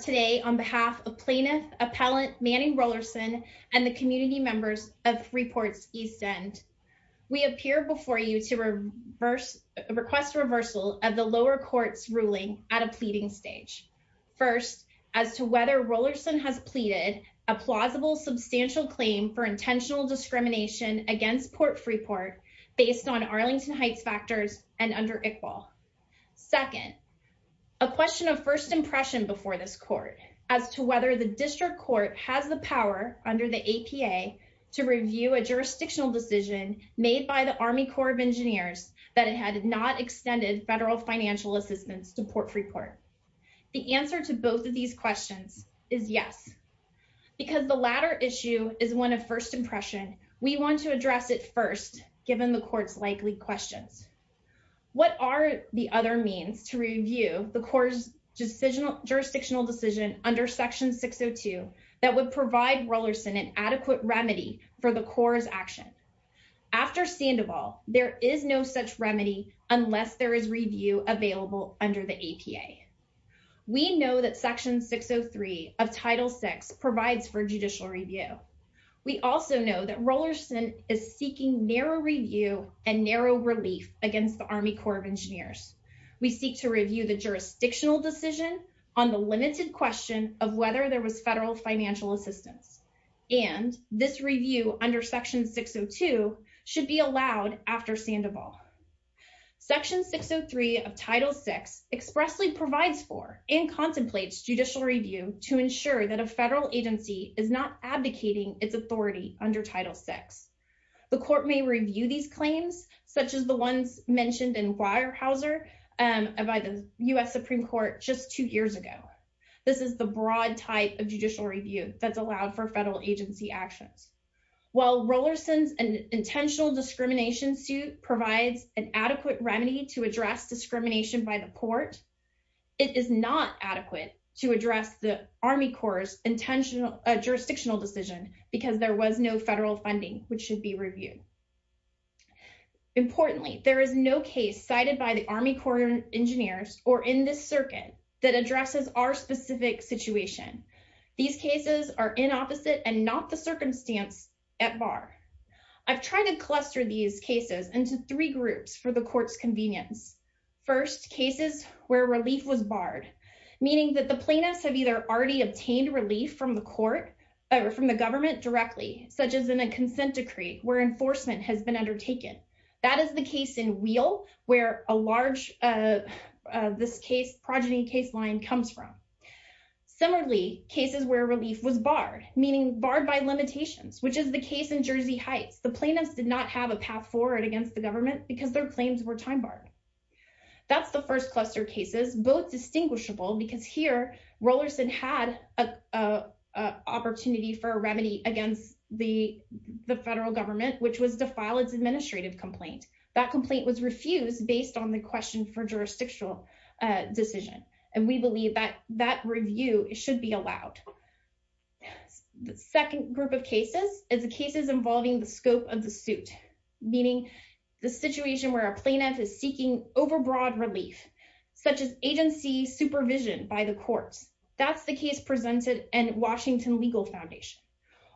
Today on behalf of plaintiff appellant Manning Rollerson and the community members of Freeport's East End, we appear before you to request a reversal of the lower court's ruling at a pleading stage. First, as to whether Rollerson has pleaded a plausible substantial claim for intentional discrimination against Port Freeport based on Arlington Heights factors and under Second, a question of first impression before this court as to whether the district court has the power under the APA to review a jurisdictional decision made by the Army Corps of Engineers that it had not extended federal financial assistance to Port Freeport. The answer to both of these questions is yes, because the latter issue is one of first impression. We want to address it first, given the court's likely questions. What are the other means to review the Corps' jurisdictional decision under Section 602 that would provide Rollerson an adequate remedy for the Corps' action? After Sandoval, there is no such remedy unless there is review available under the APA. We know that Section 603 of Title VI provides for judicial review. We also know that Rollerson is seeking narrow review and narrow relief against the Army Corps of Engineers. We seek to review the jurisdictional decision on the limited question of whether there was federal financial assistance, and this review under Section 602 should be allowed after Sandoval. Section 603 of Title VI expressly provides for and contemplates judicial review to ensure that a federal agency is not abdicating its authority under Title VI. The court may review these claims, such as the ones mentioned in Weyerhaeuser by the U.S. Supreme Court just two years ago. This is the broad type of judicial review that's allowed for federal agency actions. While Rollerson's intentional discrimination suit provides an adequate remedy to address discrimination by the court, it is not adequate to address the Army Corps' jurisdictional decision because there was no federal funding which should be reviewed. Importantly, there is no case cited by the Army Corps of Engineers or in this circuit that addresses our specific situation. These cases are inopposite and not the circumstance at bar. I've tried to cluster these cases into three groups for the court's convenience. First, cases where relief was barred, meaning that the plaintiffs have either already obtained relief from the court or from the government directly, such as in a consent decree where enforcement has been undertaken. That is the case in Wheel, where a large, this case, progeny case line comes from. Similarly, cases where relief was barred, meaning barred by limitations, which is the case in Jersey Heights. The plaintiffs did not have a path forward against the government because their claims were time barred. That's the first cluster cases, both distinguishable because here Rollerson had a opportunity for a remedy against the federal government, which was to file its administrative complaint. That complaint was refused based on the question for jurisdictional decision, and we believe that that review should be allowed. The second group of cases is the cases involving the scope of the suit, meaning the situation where a plaintiff is seeking overbroad relief, such as agency supervision by the courts. That's the case presented in Washington Legal Foundation,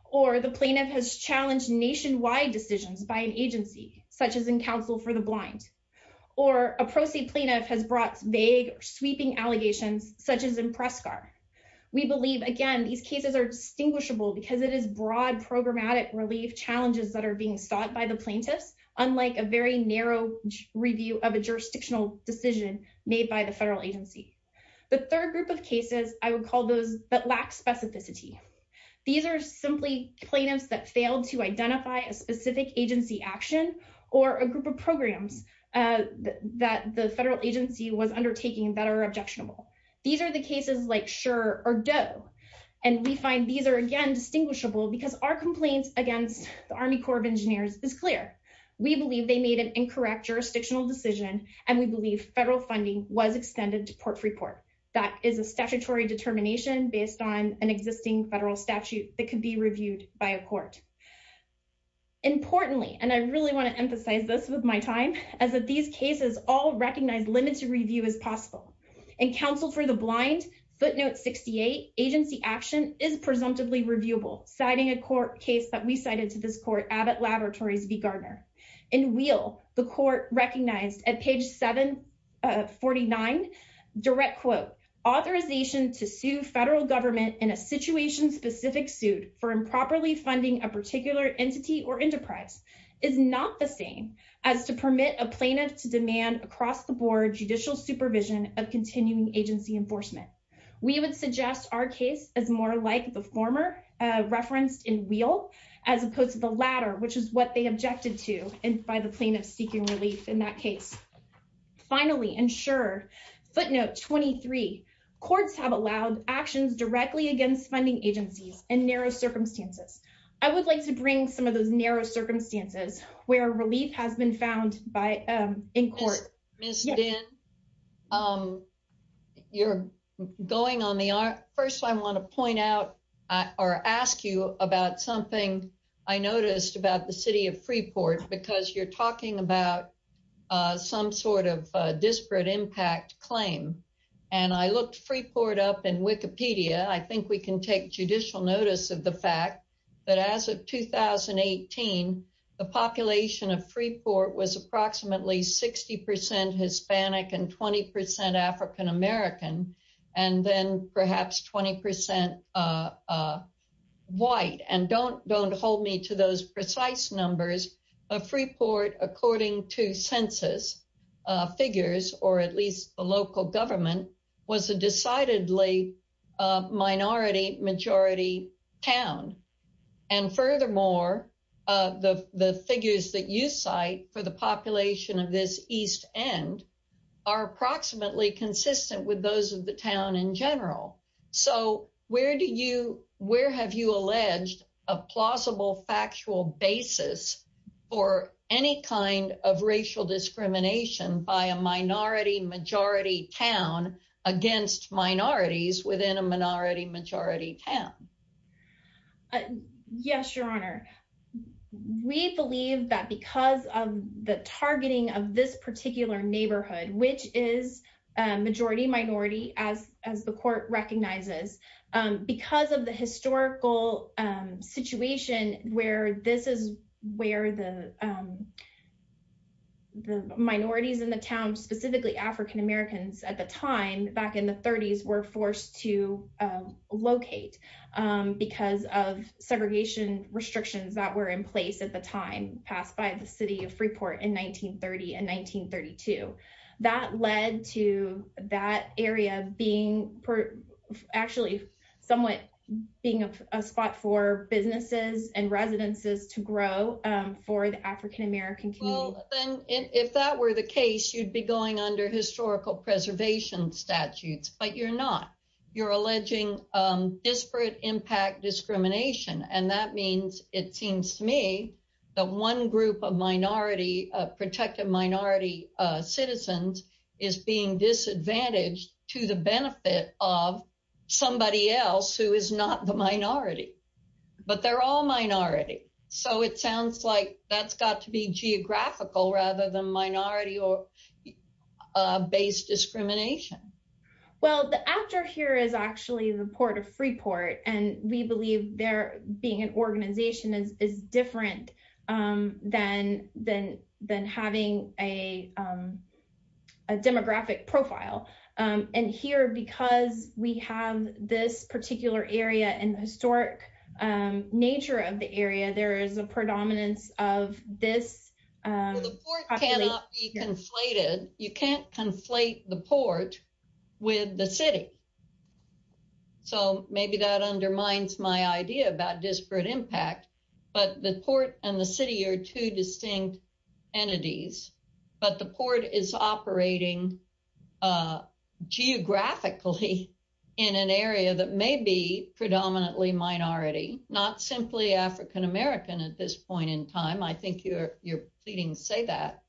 or the plaintiff has challenged nationwide decisions by an agency, such as in Counsel for the Blind, or a proceed plaintiff has brought vague sweeping allegations, such as in Prescar. We believe, again, these cases are distinguishable because it is broad programmatic relief challenges that are being sought by the plaintiffs, unlike a very narrow review of a jurisdictional decision made by the federal agency. The third group of cases, I would call those that lack specificity. These are simply plaintiffs that failed to identify a specific agency action or a group of programs that the federal agency was undertaking that are objectionable. These are the cases like Sure or Doe, and we find these are, again, distinguishable because our complaints against the Army Corps of Engineers is clear. We believe they made an incorrect jurisdictional decision, and we believe federal funding was extended to Port Freeport. That is a statutory determination based on an existing federal statute that could be reviewed by a court. Importantly, and I really want to emphasize this with my time, is that these cases all recognize limited review as possible. In Counsel for the Blind, footnote 68, agency action is presumptively reviewable, citing a court case that we cited to this court, Abbott Laboratories v. Gardner. In Wheel, the court recognized at page 749, direct quote, authorization to sue federal government in a situation-specific suit for improperly funding a particular entity or enterprise is not the same as to permit a plaintiff to demand across the board judicial supervision of continuing agency enforcement. We would suggest our case is more like the former referenced in Wheel as opposed to the latter, which is what they objected to by the plaintiff seeking relief in that case. Finally, and sure, footnote 23, courts have allowed actions directly against funding agencies in narrow circumstances. I would like to bring some of those narrow circumstances where relief has been found in court. Ms. Dinn, first I want to point out or ask you about something I noticed about the city of Freeport because you're talking about some sort of disparate impact claim. I looked Freeport up in Wikipedia. I think we can take judicial notice of the fact that as of 2018, the population of Freeport was about 20% Hispanic and 20% African-American, and then perhaps 20% white. Don't hold me to those precise numbers. Freeport, according to census figures, or at least the local government, was a decidedly minority-majority town. Furthermore, the figures that you cite for the population of this east end are approximately consistent with those of the town in general. Where have you alleged a plausible factual basis for any kind of racial discrimination by a minority-majority town against minorities within a minority-majority town? Yes, Your Honor. We believe that because of the targeting of this particular neighborhood, which is majority-minority as the court recognizes, because of the historical situation where this is where the minorities in the town, specifically African-Americans at the time back in the 30s, were forced to locate because of segregation restrictions that were in place at the time passed by the city of Freeport in 1930 and 1932. That led to that area being somewhat a spot for businesses and residences to grow for the African-American community. If that were the case, you'd be going under historical preservation statutes, but you're not. You're alleging disparate impact discrimination, and that means, it seems to me, that one group of minority protected minority citizens is being disadvantaged to the benefit of somebody else who is not the minority. But they're all minority, so it sounds like that's got to be geographical rather than minority-based discrimination. Well, the actor here is actually the Port of Freeport, and we believe there being an organization is different than having a demographic profile. And here, because we have this particular area and historic nature of the area, there is a predominance of this. The port cannot be conflated. You can't conflate the port with the city, so maybe that undermines my idea about disparate impact. But the port and the city are two distinct entities, but the port is operating geographically in an area that may be predominantly minority, not simply African-American at this point in time. I think you're pleading to say that,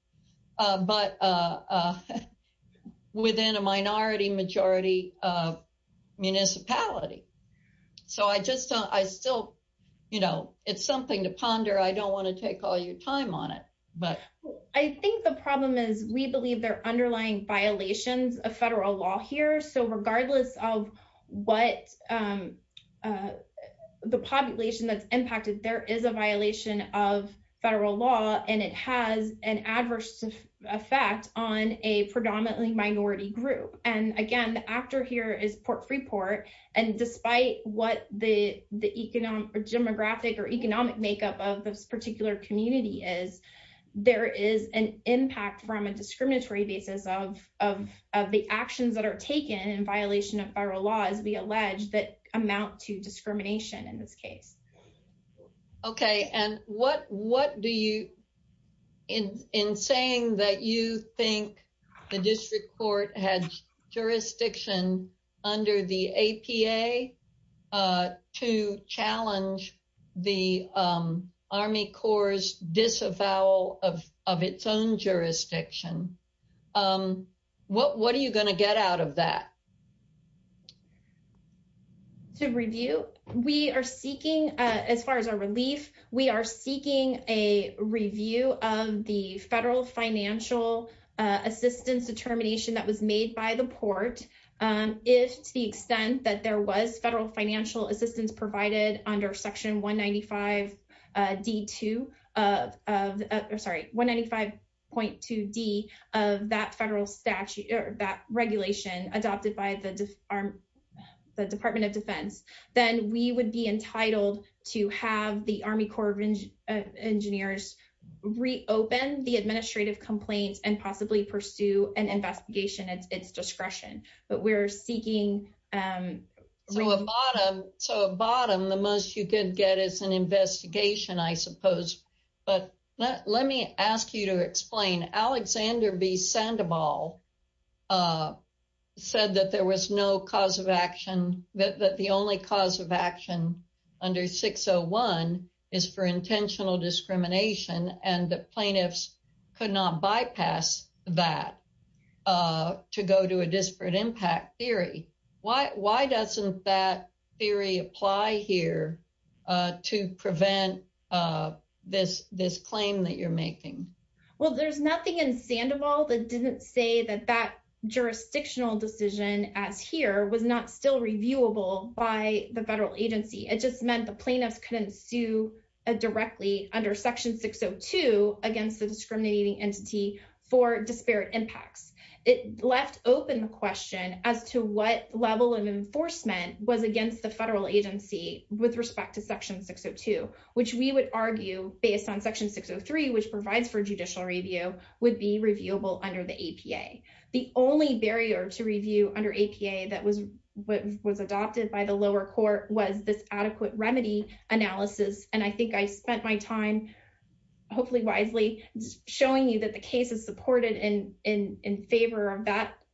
but within a minority-majority municipality. It's something to ponder. I don't want to take all your time on it. I think the problem is we believe there are underlying violations of federal law here, so regardless of what the population that's impacted, there is a violation of federal law, and it has an adverse effect on a predominantly minority group. And again, the actor here is Port Freeport, and despite what the demographic or economic makeup of this community is, there is an impact from a discriminatory basis of the actions that are taken in violation of federal law, as we allege, that amount to discrimination in this case. Okay, and what do you, in saying that you think the district court had jurisdiction under the APA to challenge the Army Corps' disavowal of its own jurisdiction, what are you going to get out of that? To review, we are seeking, as far as our relief, we are seeking a review of the federal financial assistance determination that was made by the port. If, to the extent that there was federal financial assistance provided under section 195.2D of that regulation adopted by the Department of Defense, then we would be entitled to have the Army Corps of Engineers reopen the administrative complaints and possibly pursue an investigation at its discretion, but we're seeking. So, at bottom, the most you could get is an investigation, I suppose, but let me ask you to explain. Alexander B. Sandoval said that there was no cause of action, that the only cause of action under 601 is for intentional discrimination, and the plaintiffs could not bypass that to go to a disparate impact theory. Why doesn't that theory apply here to prevent this claim that you're making? Well, there's nothing in Sandoval that didn't say that that jurisdictional decision, as here, was not still reviewable by the federal agency. It just meant the plaintiffs couldn't sue directly under section 602 against the discriminating entity for disparate impacts. It left open the question as to what level of enforcement was against the federal agency with respect to section 602, which we would argue, based on section 603, which provides for judicial review, would be reviewable under the APA. The only barrier to analysis, and I think I spent my time, hopefully wisely, showing you that the cases supported in favor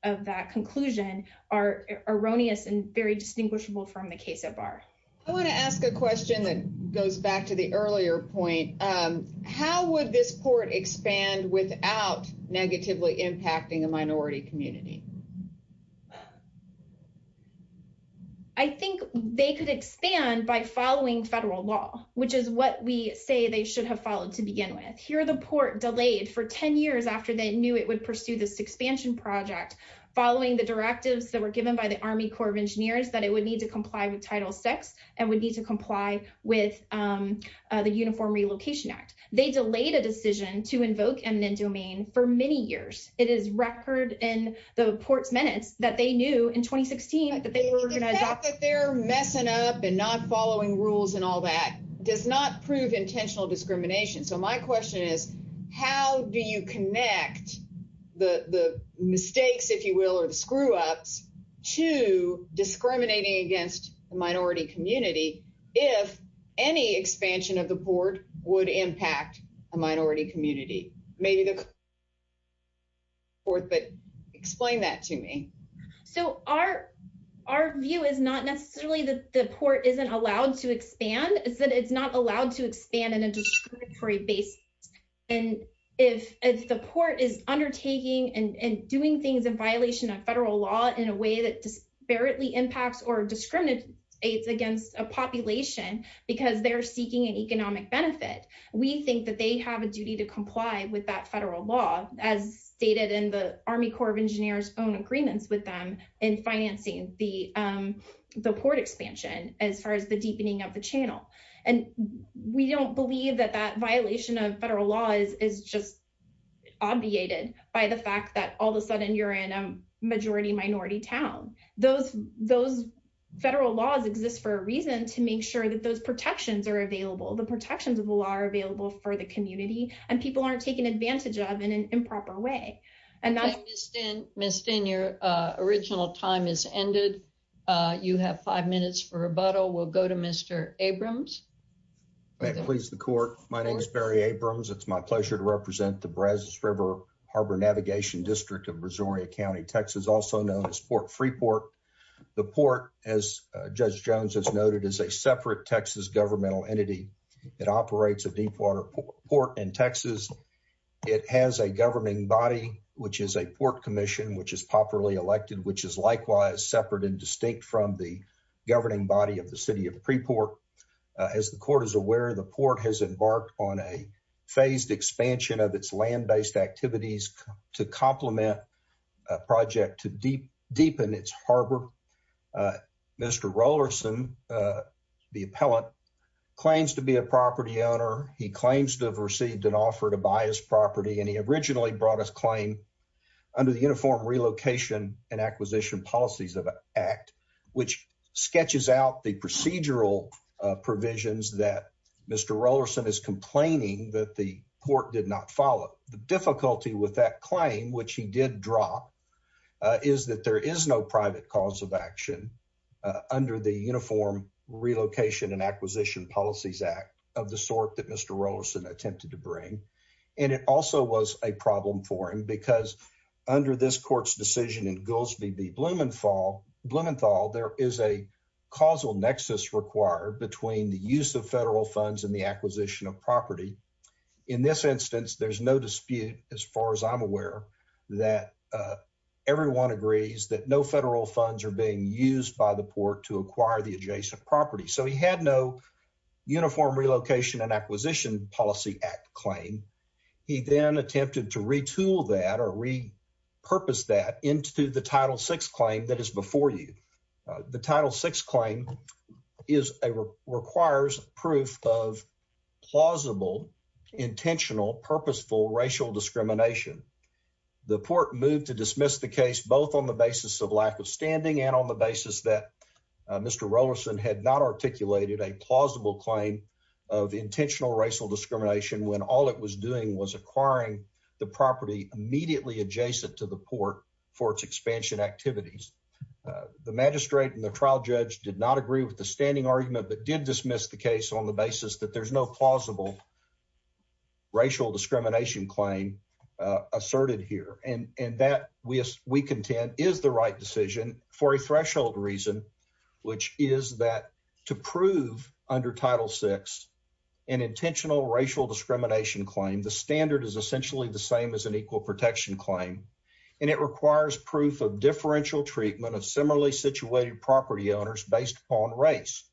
of that conclusion are erroneous and very distinguishable from the case at bar. I want to ask a question that goes back to the earlier point. How would this court expand without negatively impacting a minority community? I think they could expand by following federal law, which is what we say they should have followed to begin with. Here, the court delayed for 10 years after they knew it would pursue this expansion project, following the directives that were given by the Army Corps of Engineers, that it would need to comply with Title VI and would need to comply with the Uniform Relocation Act. They delayed a decision to invoke eminent domain for many years. It is record in the court's minutes that they knew, in 2016, that they were going to adopt— The fact that they're messing up and not following rules and all that does not prove intentional discrimination. My question is, how do you connect the mistakes, if you will, or the screw-ups to discriminating against a minority community if any expansion of the Uniform Relocation Act is not necessary? Our view is not necessarily that the court isn't allowed to expand. It's that it's not allowed to expand on a discriminatory basis. If the court is undertaking and doing things in violation of federal law in a way that disparately impacts or discriminates against a population because they're seeking an economic benefit, we think that they have a duty to comply with that federal law, as stated in the Army Corps of Engineers' own agreements with them in financing the port expansion as far as the deepening of the channel. We don't believe that that violation of federal law is just obviated by the fact that all of a sudden you're in a majority-minority town. Those federal laws exist for a reason to make sure that those protections are available. The protections are available for the community and people aren't taken advantage of in an improper way. Ms. Stinn, your original time has ended. You have five minutes for rebuttal. We'll go to Mr. Abrams. May it please the court, my name is Barry Abrams. It's my pleasure to represent the Brazos River Harbor Navigation District of Brazoria County, Texas, also known as Port Freeport. The port, as Judge Jones has noted, is a separate Texas governmental entity. It operates a deep water port in Texas. It has a governing body, which is a port commission, which is popularly elected, which is likewise separate and distinct from the governing body of the city of Preport. As the court is aware, the port has embarked on a phased expansion of its land-based activities to complement a project to deepen its harbor. Mr. Rollerson, the appellant, claims to be a property owner. He claims to have received an offer to buy his property, and he originally brought his claim under the Uniform Relocation and Acquisition Policies Act, which sketches out the procedural provisions that Mr. Rollerson is complaining that the claim, which he did drop, is that there is no private cause of action under the Uniform Relocation and Acquisition Policies Act of the sort that Mr. Rollerson attempted to bring, and it also was a problem for him because under this court's decision in Gulsby v. Blumenthal, there is a causal nexus required between the use of federal funds and the acquisition of property. In this instance, there's no dispute, as far as I'm aware, that everyone agrees that no federal funds are being used by the port to acquire the adjacent property. So he had no Uniform Relocation and Acquisition Policy Act claim. He then attempted to retool that or repurpose that into the Title VI claim, which requires proof of plausible, intentional, purposeful racial discrimination. The court moved to dismiss the case both on the basis of lack of standing and on the basis that Mr. Rollerson had not articulated a plausible claim of intentional racial discrimination when all it was doing was acquiring the property immediately adjacent to the port for its not agree with the standing argument, but did dismiss the case on the basis that there's no plausible racial discrimination claim asserted here. And that, we contend, is the right decision for a threshold reason, which is that to prove under Title VI an intentional racial discrimination claim, the standard is essentially the same as an equal protection claim, and it requires proof of differential treatment of similarly situated property owners based upon race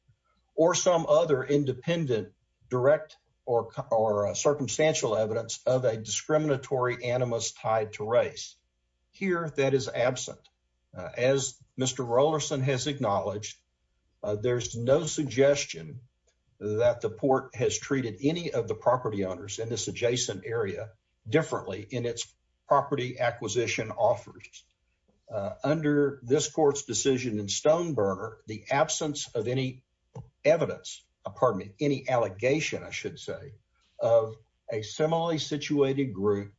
or some other independent direct or circumstantial evidence of a discriminatory animus tied to race. Here, that is absent. As Mr. Rollerson has acknowledged, there's no suggestion that the port has treated any of the property owners in this adjacent area differently in its property acquisition offers. Under this court's decision in Stoneburner, the absence of any evidence, pardon me, any allegation, I should say, of a similarly situated group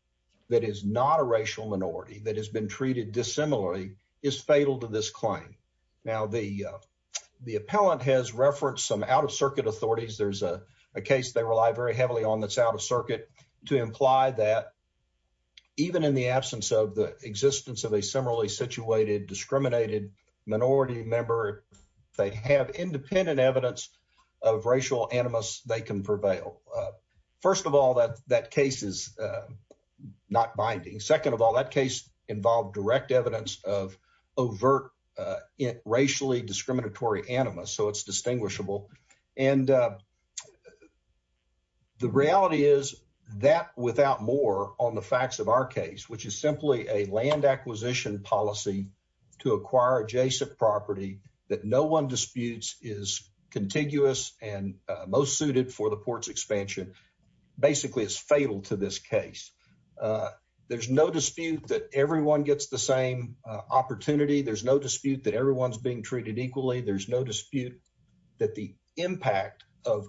that is not a racial minority that has been treated dissimilarly is fatal to this claim. Now, the appellant has referenced some out-of-circuit authorities. There's a case they rely very heavily on that's out-of-circuit to imply that even in the absence of the existence of a similarly situated discriminated minority member, if they have independent evidence of racial animus, they can prevail. First of all, that case is not binding. Second of all, that case involved direct evidence of that without more on the facts of our case, which is simply a land acquisition policy to acquire adjacent property that no one disputes is contiguous and most suited for the port's expansion. Basically, it's fatal to this case. There's no dispute that everyone gets the same opportunity. There's no dispute that everyone's being treated equally. There's no dispute that the impact of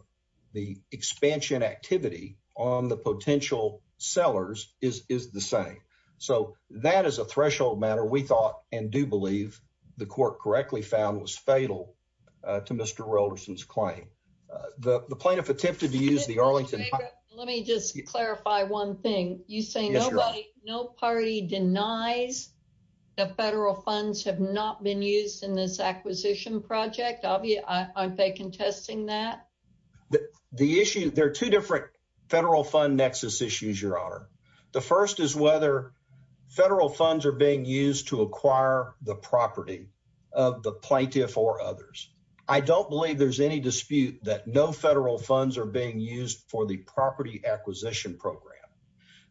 the expansion activity on the potential sellers is the same. So, that is a threshold matter we thought and do believe the court correctly found was fatal to Mr. Rolderson's claim. The plaintiff attempted to use the Arlington... Let me just clarify one thing. You say nobody, no party denies that federal funds have not been used in this acquisition project. Aren't they contesting that? The issue, there are two different federal fund nexus issues, Your Honor. The first is whether federal funds are being used to acquire the property of the plaintiff or others. I don't believe there's any dispute that no federal funds are being used for the property acquisition program.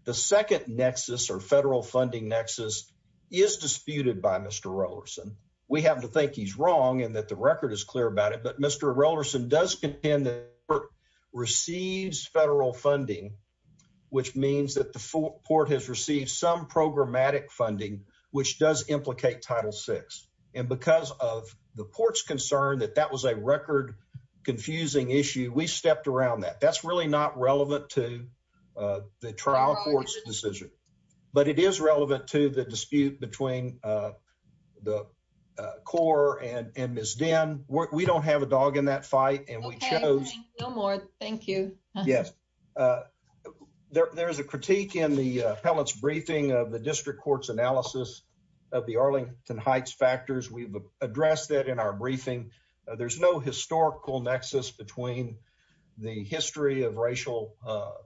The second nexus or federal funding nexus is disputed by Mr. Rolderson. We happen to think he's wrong and that the record is clear about it, but Mr. Rolderson does contend that the port receives federal funding, which means that the port has received some programmatic funding, which does implicate Title VI. And because of the port's concern that that was a record confusing issue, we stepped around that. That's really not relevant to the trial court's decision, but it is relevant to the dispute between the court and Ms. Dinn. We don't have a dog in that fight and we chose... No more. Thank you. Yes. There is a critique in the appellate's briefing of the district court's analysis of the Arlington Heights factors. We've addressed that in our briefing. There's no historical nexus between the history of racial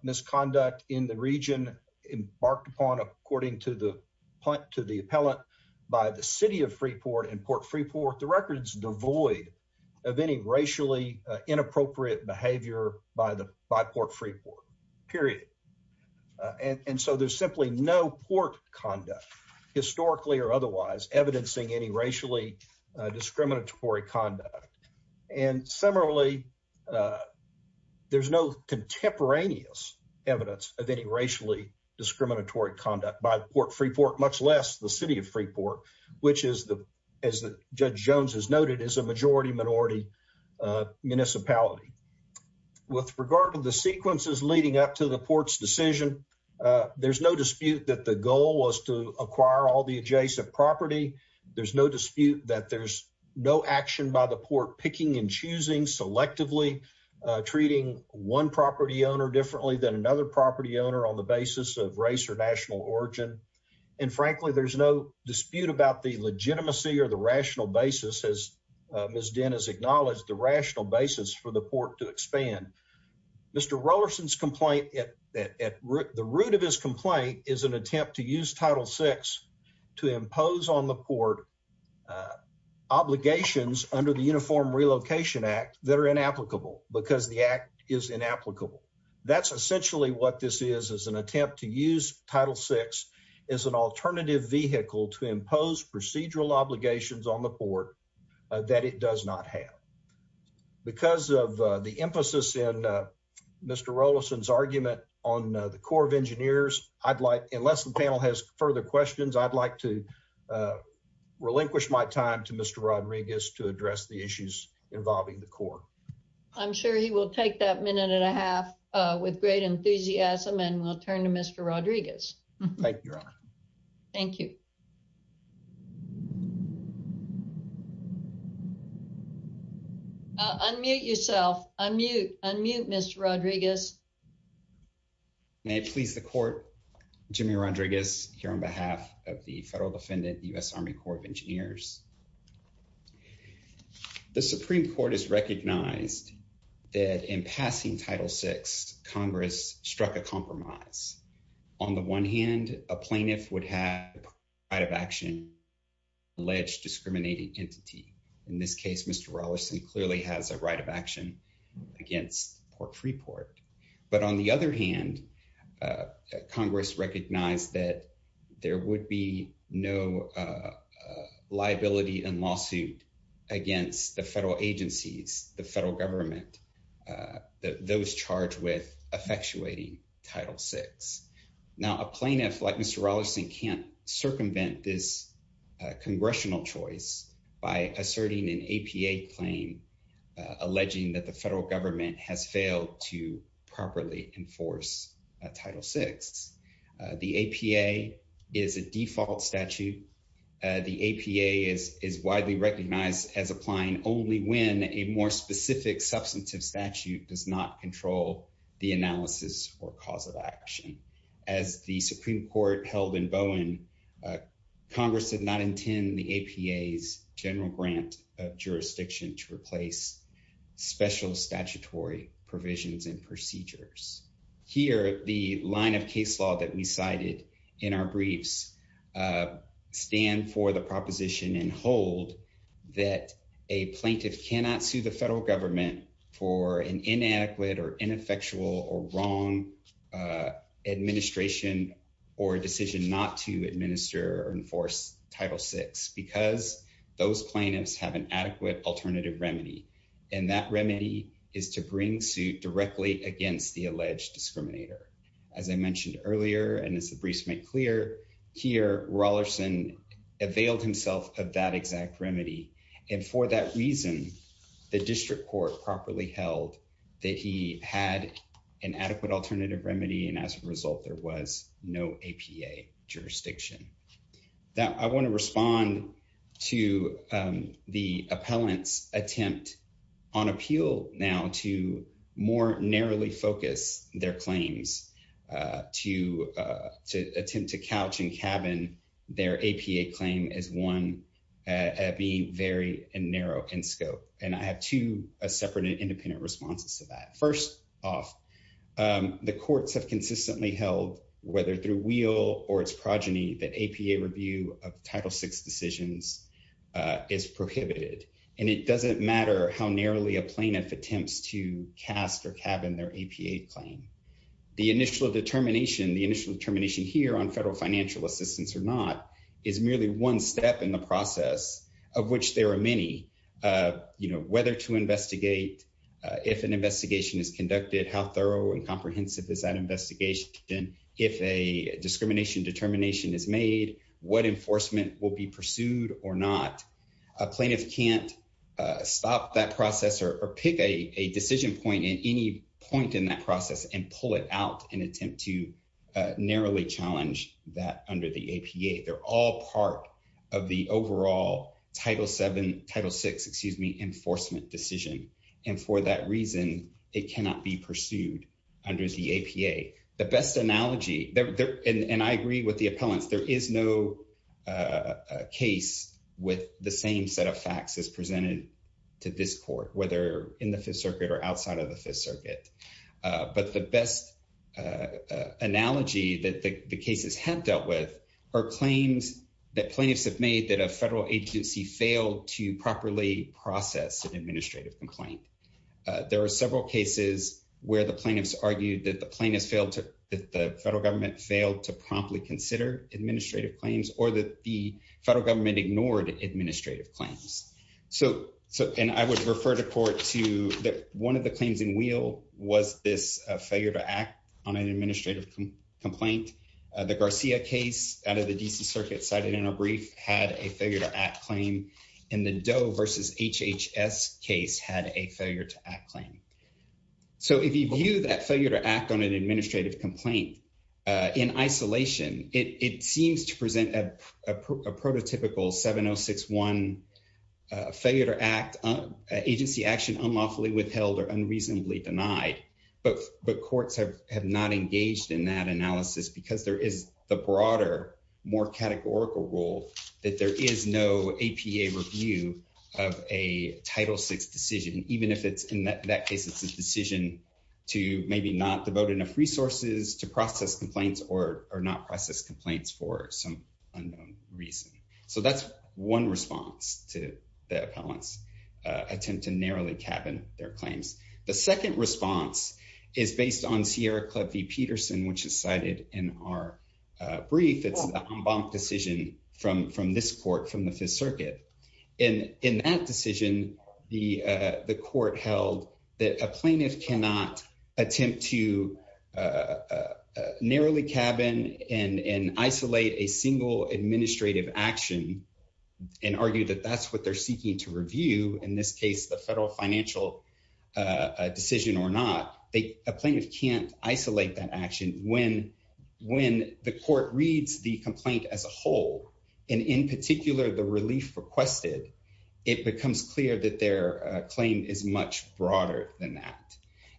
misconduct in the region embarked upon according to the appellate by the city of Freeport and Port Freeport. The record's devoid of any racially inappropriate behavior by Port Freeport, period. And so there's simply no port conduct historically or otherwise evidencing any racially discriminatory conduct. And similarly, there's no contemporaneous evidence of any racially discriminatory conduct by Port Freeport, much less the city of Freeport, which is, as Judge Jones has noted, is a majority-minority municipality. With regard to the sequences leading up to the port's decision, there's no dispute that the goal was to acquire all the adjacent property. There's no dispute that there's no action by the port picking and choosing selectively, treating one property owner differently than another property owner on the basis of race or national origin. And frankly, there's no dispute about the legitimacy or the rational basis, as Ms. Dinn has acknowledged, the rational basis for the port to expand. Mr. Rollerson's complaint at the root of his complaint is an attempt to use Title VI to impose on the port obligations under the Uniform Relocation Act that are inapplicable because the act is inapplicable. That's essentially what this is, is an attempt to use Title VI as an alternative vehicle to impose procedural obligations on the port that it does not have. Because of the emphasis in Mr. Rollerson's argument on the Corps of Engineers, I'd like, unless the panel has further questions, I'd like to relinquish my time to Mr. Rodriguez to address the issues involving the Corps. I'm sure he will take that minute and a half with great enthusiasm and we'll turn to Mr. Rodriguez. Thank you, Your Honor. Thank you. Unmute yourself. Unmute. Unmute, Mr. Rodriguez. May it please the Court, Jimmy Rodriguez here on behalf of the Federal Defendant, U.S. Army Corps of Engineers. The Supreme Court has recognized that in passing Title VI, Congress struck a compromise. On the one hand, a plaintiff would have the right of action against an alleged discriminating entity. In this case, Mr. Rollerson clearly has a right of action against Port Freeport. But on the other hand, Congress recognized that there would be no liability and lawsuit against the federal agencies, the federal government, that those charged with effectuating Title VI. Now, a plaintiff like Mr. Rollerson can't circumvent this congressional choice by asserting an APA claim, alleging that the federal government has failed to properly enforce Title VI. The APA is a default statute. The APA is widely recognized as applying only when a more specific substantive statute does not control the analysis or cause of action. As the Supreme Court held in Bowen, Congress did not intend the APA's general grant of jurisdiction to replace special statutory provisions and procedures. Here, the line of case law that we cited in our briefs stand for the proposition and hold that a plaintiff cannot sue the federal government for an inadequate or ineffectual or wrong administration or decision not to administer or enforce Title VI because those plaintiffs have an adequate alternative remedy. And that remedy is to bring suit directly against the alleged discriminator. As I mentioned earlier, and as the Supreme Court held, Mr. Rollerson availed himself of that exact remedy. And for that reason, the District Court properly held that he had an adequate alternative remedy. And as a result, there was no APA jurisdiction. Now, I want to respond to the appellant's attempt on appeal now to more narrowly their claims, to attempt to couch and cabin their APA claim as one at being very narrow in scope. And I have two separate and independent responses to that. First off, the courts have consistently held, whether through wheel or its progeny, that APA review of Title VI decisions is prohibited. And it doesn't matter how narrowly a plaintiff attempts to cast or cabin their APA claim. The initial determination here on federal financial assistance or not is merely one step in the process of which there are many. Whether to investigate, if an investigation is conducted, how thorough and comprehensive is that investigation, if a discrimination determination is made, what enforcement will be pursued or not. A plaintiff can't stop that process or pick a decision point at any point in that process and pull it out and attempt to narrowly challenge that under the APA. They're all part of the overall Title VII, Title VI, excuse me, enforcement decision. And for that reason, it cannot be pursued under the APA. The best analogy, and I agree with the appellants, there is no case with the same set of facts as presented to this court, whether in the Fifth Circuit or outside of the Fifth Circuit. But the best analogy that the cases have dealt with are claims that plaintiffs have made that a federal agency failed to properly process an administrative complaint. There are several cases where the plaintiffs argued that the plaintiffs failed to, that the federal government failed to promptly consider administrative claims or that the federal government ignored administrative claims. So, and I would refer to court to that one of the claims in wheel was this failure to act on an administrative complaint. The Garcia case out of the D.C. Circuit cited in a brief had a failure to act claim, and the Doe versus HHS case had a failure to act claim. So, if you view that failure to act on an administrative complaint in isolation, it seems to present a prototypical 7061 failure to act, agency action unlawfully withheld or unreasonably denied. But courts have not engaged in that analysis because there is the broader, more categorical rule that there is no APA review of a Title VI decision, even if it's in that case, it's a decision to maybe not devote enough resources to process complaints or not process complaints for some unknown reason. So, that's one response to the appellant's attempt to narrowly cabin their claims. The second response is based on Sierra Club v. Peterson, which is cited in our brief. It's an en banc decision from this court, from the Fifth Circuit. In that decision, the court held that a plaintiff cannot attempt to narrowly cabin and isolate a single administrative action and argue that that's what they're seeking to review, in this case, the federal financial decision or not. A plaintiff can't isolate that decision. When the court reads the complaint as a whole, and in particular, the relief requested, it becomes clear that their claim is much broader than that.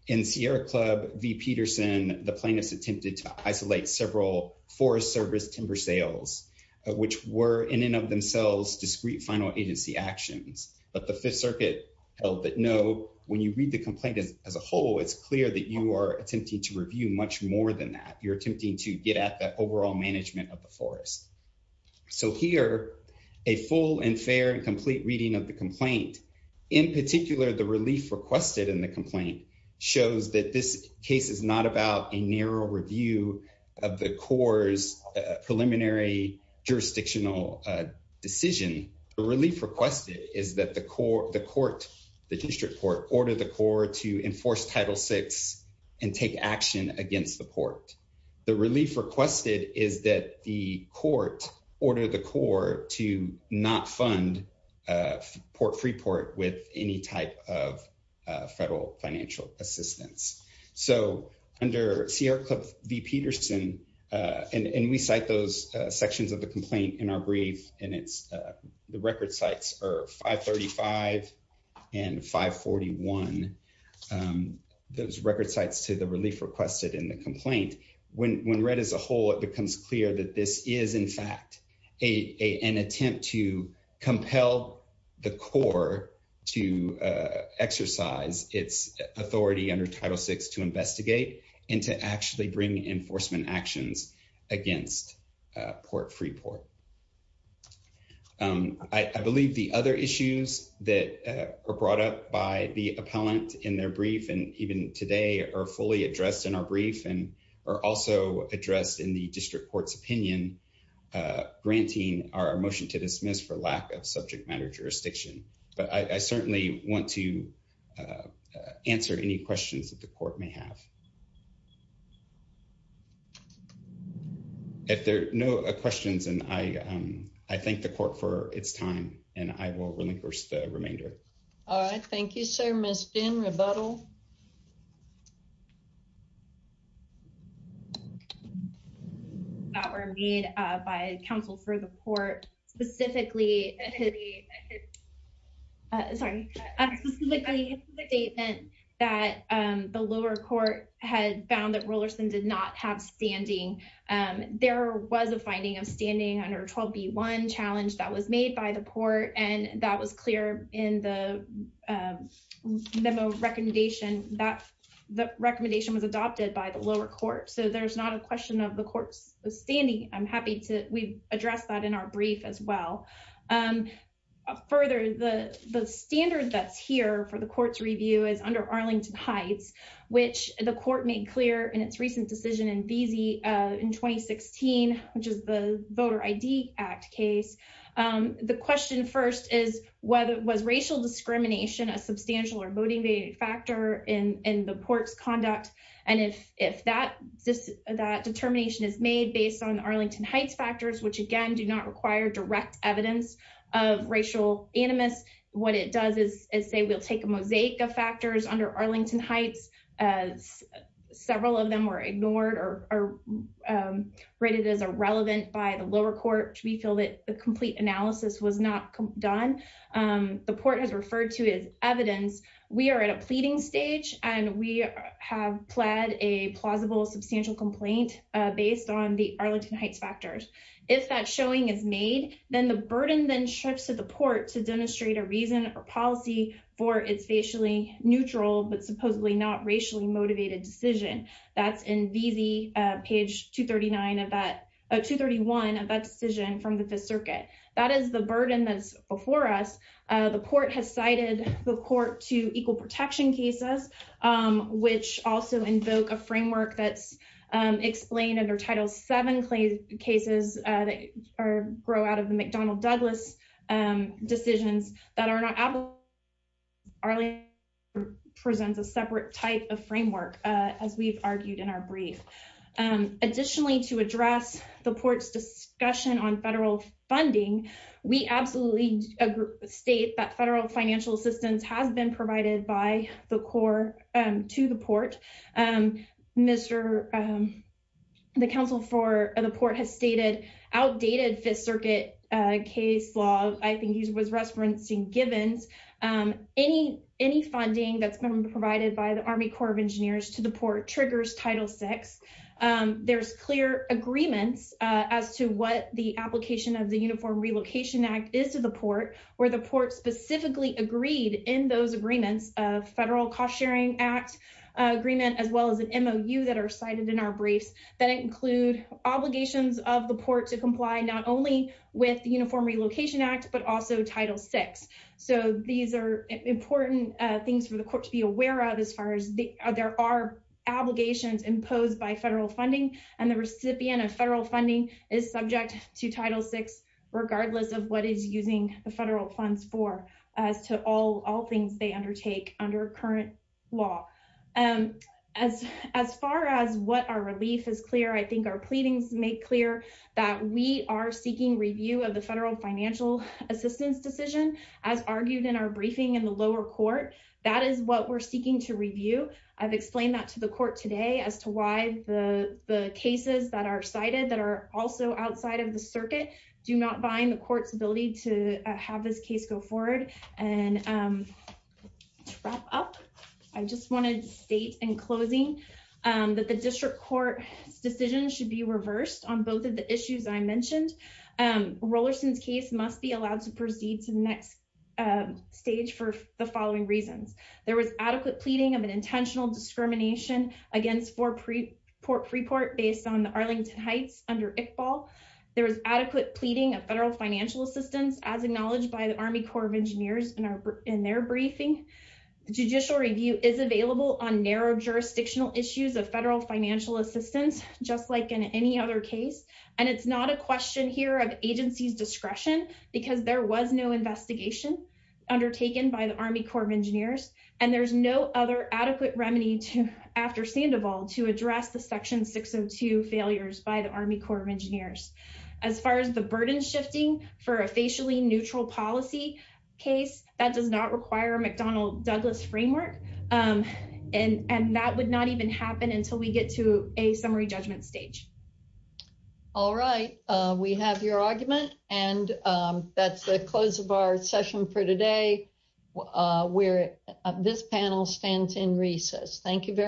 In Sierra Club v. Peterson, the plaintiffs attempted to isolate several Forest Service timber sales, which were in and of themselves discrete final agency actions. But the Fifth Circuit held that, no, when you read the complaint, you're attempting to get at the overall management of the forest. So, here, a full and fair and complete reading of the complaint, in particular, the relief requested in the complaint, shows that this case is not about a narrow review of the Corps' preliminary jurisdictional decision. The relief requested is that the court, the district court, ordered the Corps to enforce Title VI and take action against the Port. The relief requested is that the court ordered the Corps to not fund Port Freeport with any type of federal financial assistance. So, under Sierra Club v. Peterson, and we cite those sections of the complaint in our brief, and the record sites are 535 and 541, those record sites to the relief requested in the complaint, when read as a whole, it becomes clear that this is, in fact, an attempt to compel the Corps to exercise its authority under Title VI to investigate and to actually bring enforcement actions against Port Freeport. I believe the other issues that are brought up by the appellant in their brief, and even today, are fully addressed in our brief and are also addressed in the district court's opinion, granting our motion to dismiss for lack of subject matter jurisdiction. But I certainly want to answer any questions that the court may have. If there are no questions, then I thank the court for its time, and I will relinquish the remainder. All right. Thank you, sir. Ms. Finn, rebuttal. That were made by counsel for the court, specifically, sorry, specifically in the statement that the lower court had found that Rollerson did not have standing. There was a finding of standing under 12B1 challenge that was made by the court, and that was clear in the memo of recommendation that the recommendation was adopted by the lower court. So there's not a question of the court's standing. I'm happy to address that in our brief as well. Further, the standard that's here for the court's review is under Arlington Heights, which the court made clear in its recent decision in VZ in 2016, which is the Voter ID Act case. The question first is, was racial discrimination a substantial or motivating factor in the court's conduct? And if that determination is made based on Arlington Heights factors, which, again, do not require direct evidence of racial animus, what it does is say we'll take a mosaic of factors under Arlington Heights. Several of them were ignored or rated as irrelevant by the lower court. We feel that the complete analysis was not done. The court has referred to as evidence. We are at a pleading stage, and we have pled a plausible substantial complaint based on the Arlington Heights factors. If that showing is made, then the burden then shifts to the court to demonstrate a reason or policy for its facially neutral but supposedly not racially motivated decision. That's in VZ, page 231 of that decision from the Fifth Circuit. That is the burden that's before us. The court has cited the court to equal protection cases, which also invoke a framework that's explained under Title VII cases that grow out of the McDonnell-Douglas decisions that are not applicable. Arlington presents a separate type of framework, as we've argued in our brief. Additionally, to address the court's discussion on federal funding, we absolutely state that federal financial assistance has been provided by the court to the I think he was referencing Givens. Any funding that's been provided by the Army Corps of Engineers to the port triggers Title VI. There's clear agreements as to what the application of the Uniform Relocation Act is to the port, where the port specifically agreed in those agreements of federal cost-sharing act agreement, as well as an MOU that are cited in our briefs that include obligations of the port to comply not only with the Uniform Relocation Act but also Title VI. These are important things for the court to be aware of as far as there are obligations imposed by federal funding, and the recipient of federal funding is subject to Title VI, regardless of what is using the federal funds for as to all things they undertake under current law. As far as what our relief is clear, I think our pleadings make clear that we are seeking review of the federal financial assistance decision, as argued in our briefing in the lower court. That is what we're seeking to review. I've explained that to the court today as to why the cases that are cited that are also outside of the circuit do not bind the court's ability to have this case go forward. And to wrap up, I just wanted to state in closing that the district court's decision should be reversed on both of the issues I mentioned. Rollerson's case must be allowed to proceed to the next stage for the following reasons. There was adequate pleading of an intentional discrimination against Fort Freeport based on the Arlington Heights under Iqbal. There was adequate pleading of federal financial assistance as acknowledged by the Army Corps of Engineers in their briefing. Judicial review is available on narrow jurisdictional issues of federal financial assistance, just like in any other case. And it's not a question here of agency's discretion, because there was no investigation undertaken by the Army Corps of Engineers. And there's no other adequate remedy after Sandoval to address the Section 602 failures by the Army Corps of Engineers. As far as the burden shifting for a facially neutral policy case, that does not require a McDonnell-Douglas framework. And that would not even happen until we get to a summary judgment stage. All right. We have your argument. And that's the close of our session for today, where this panel stands in recess. Thank you very much.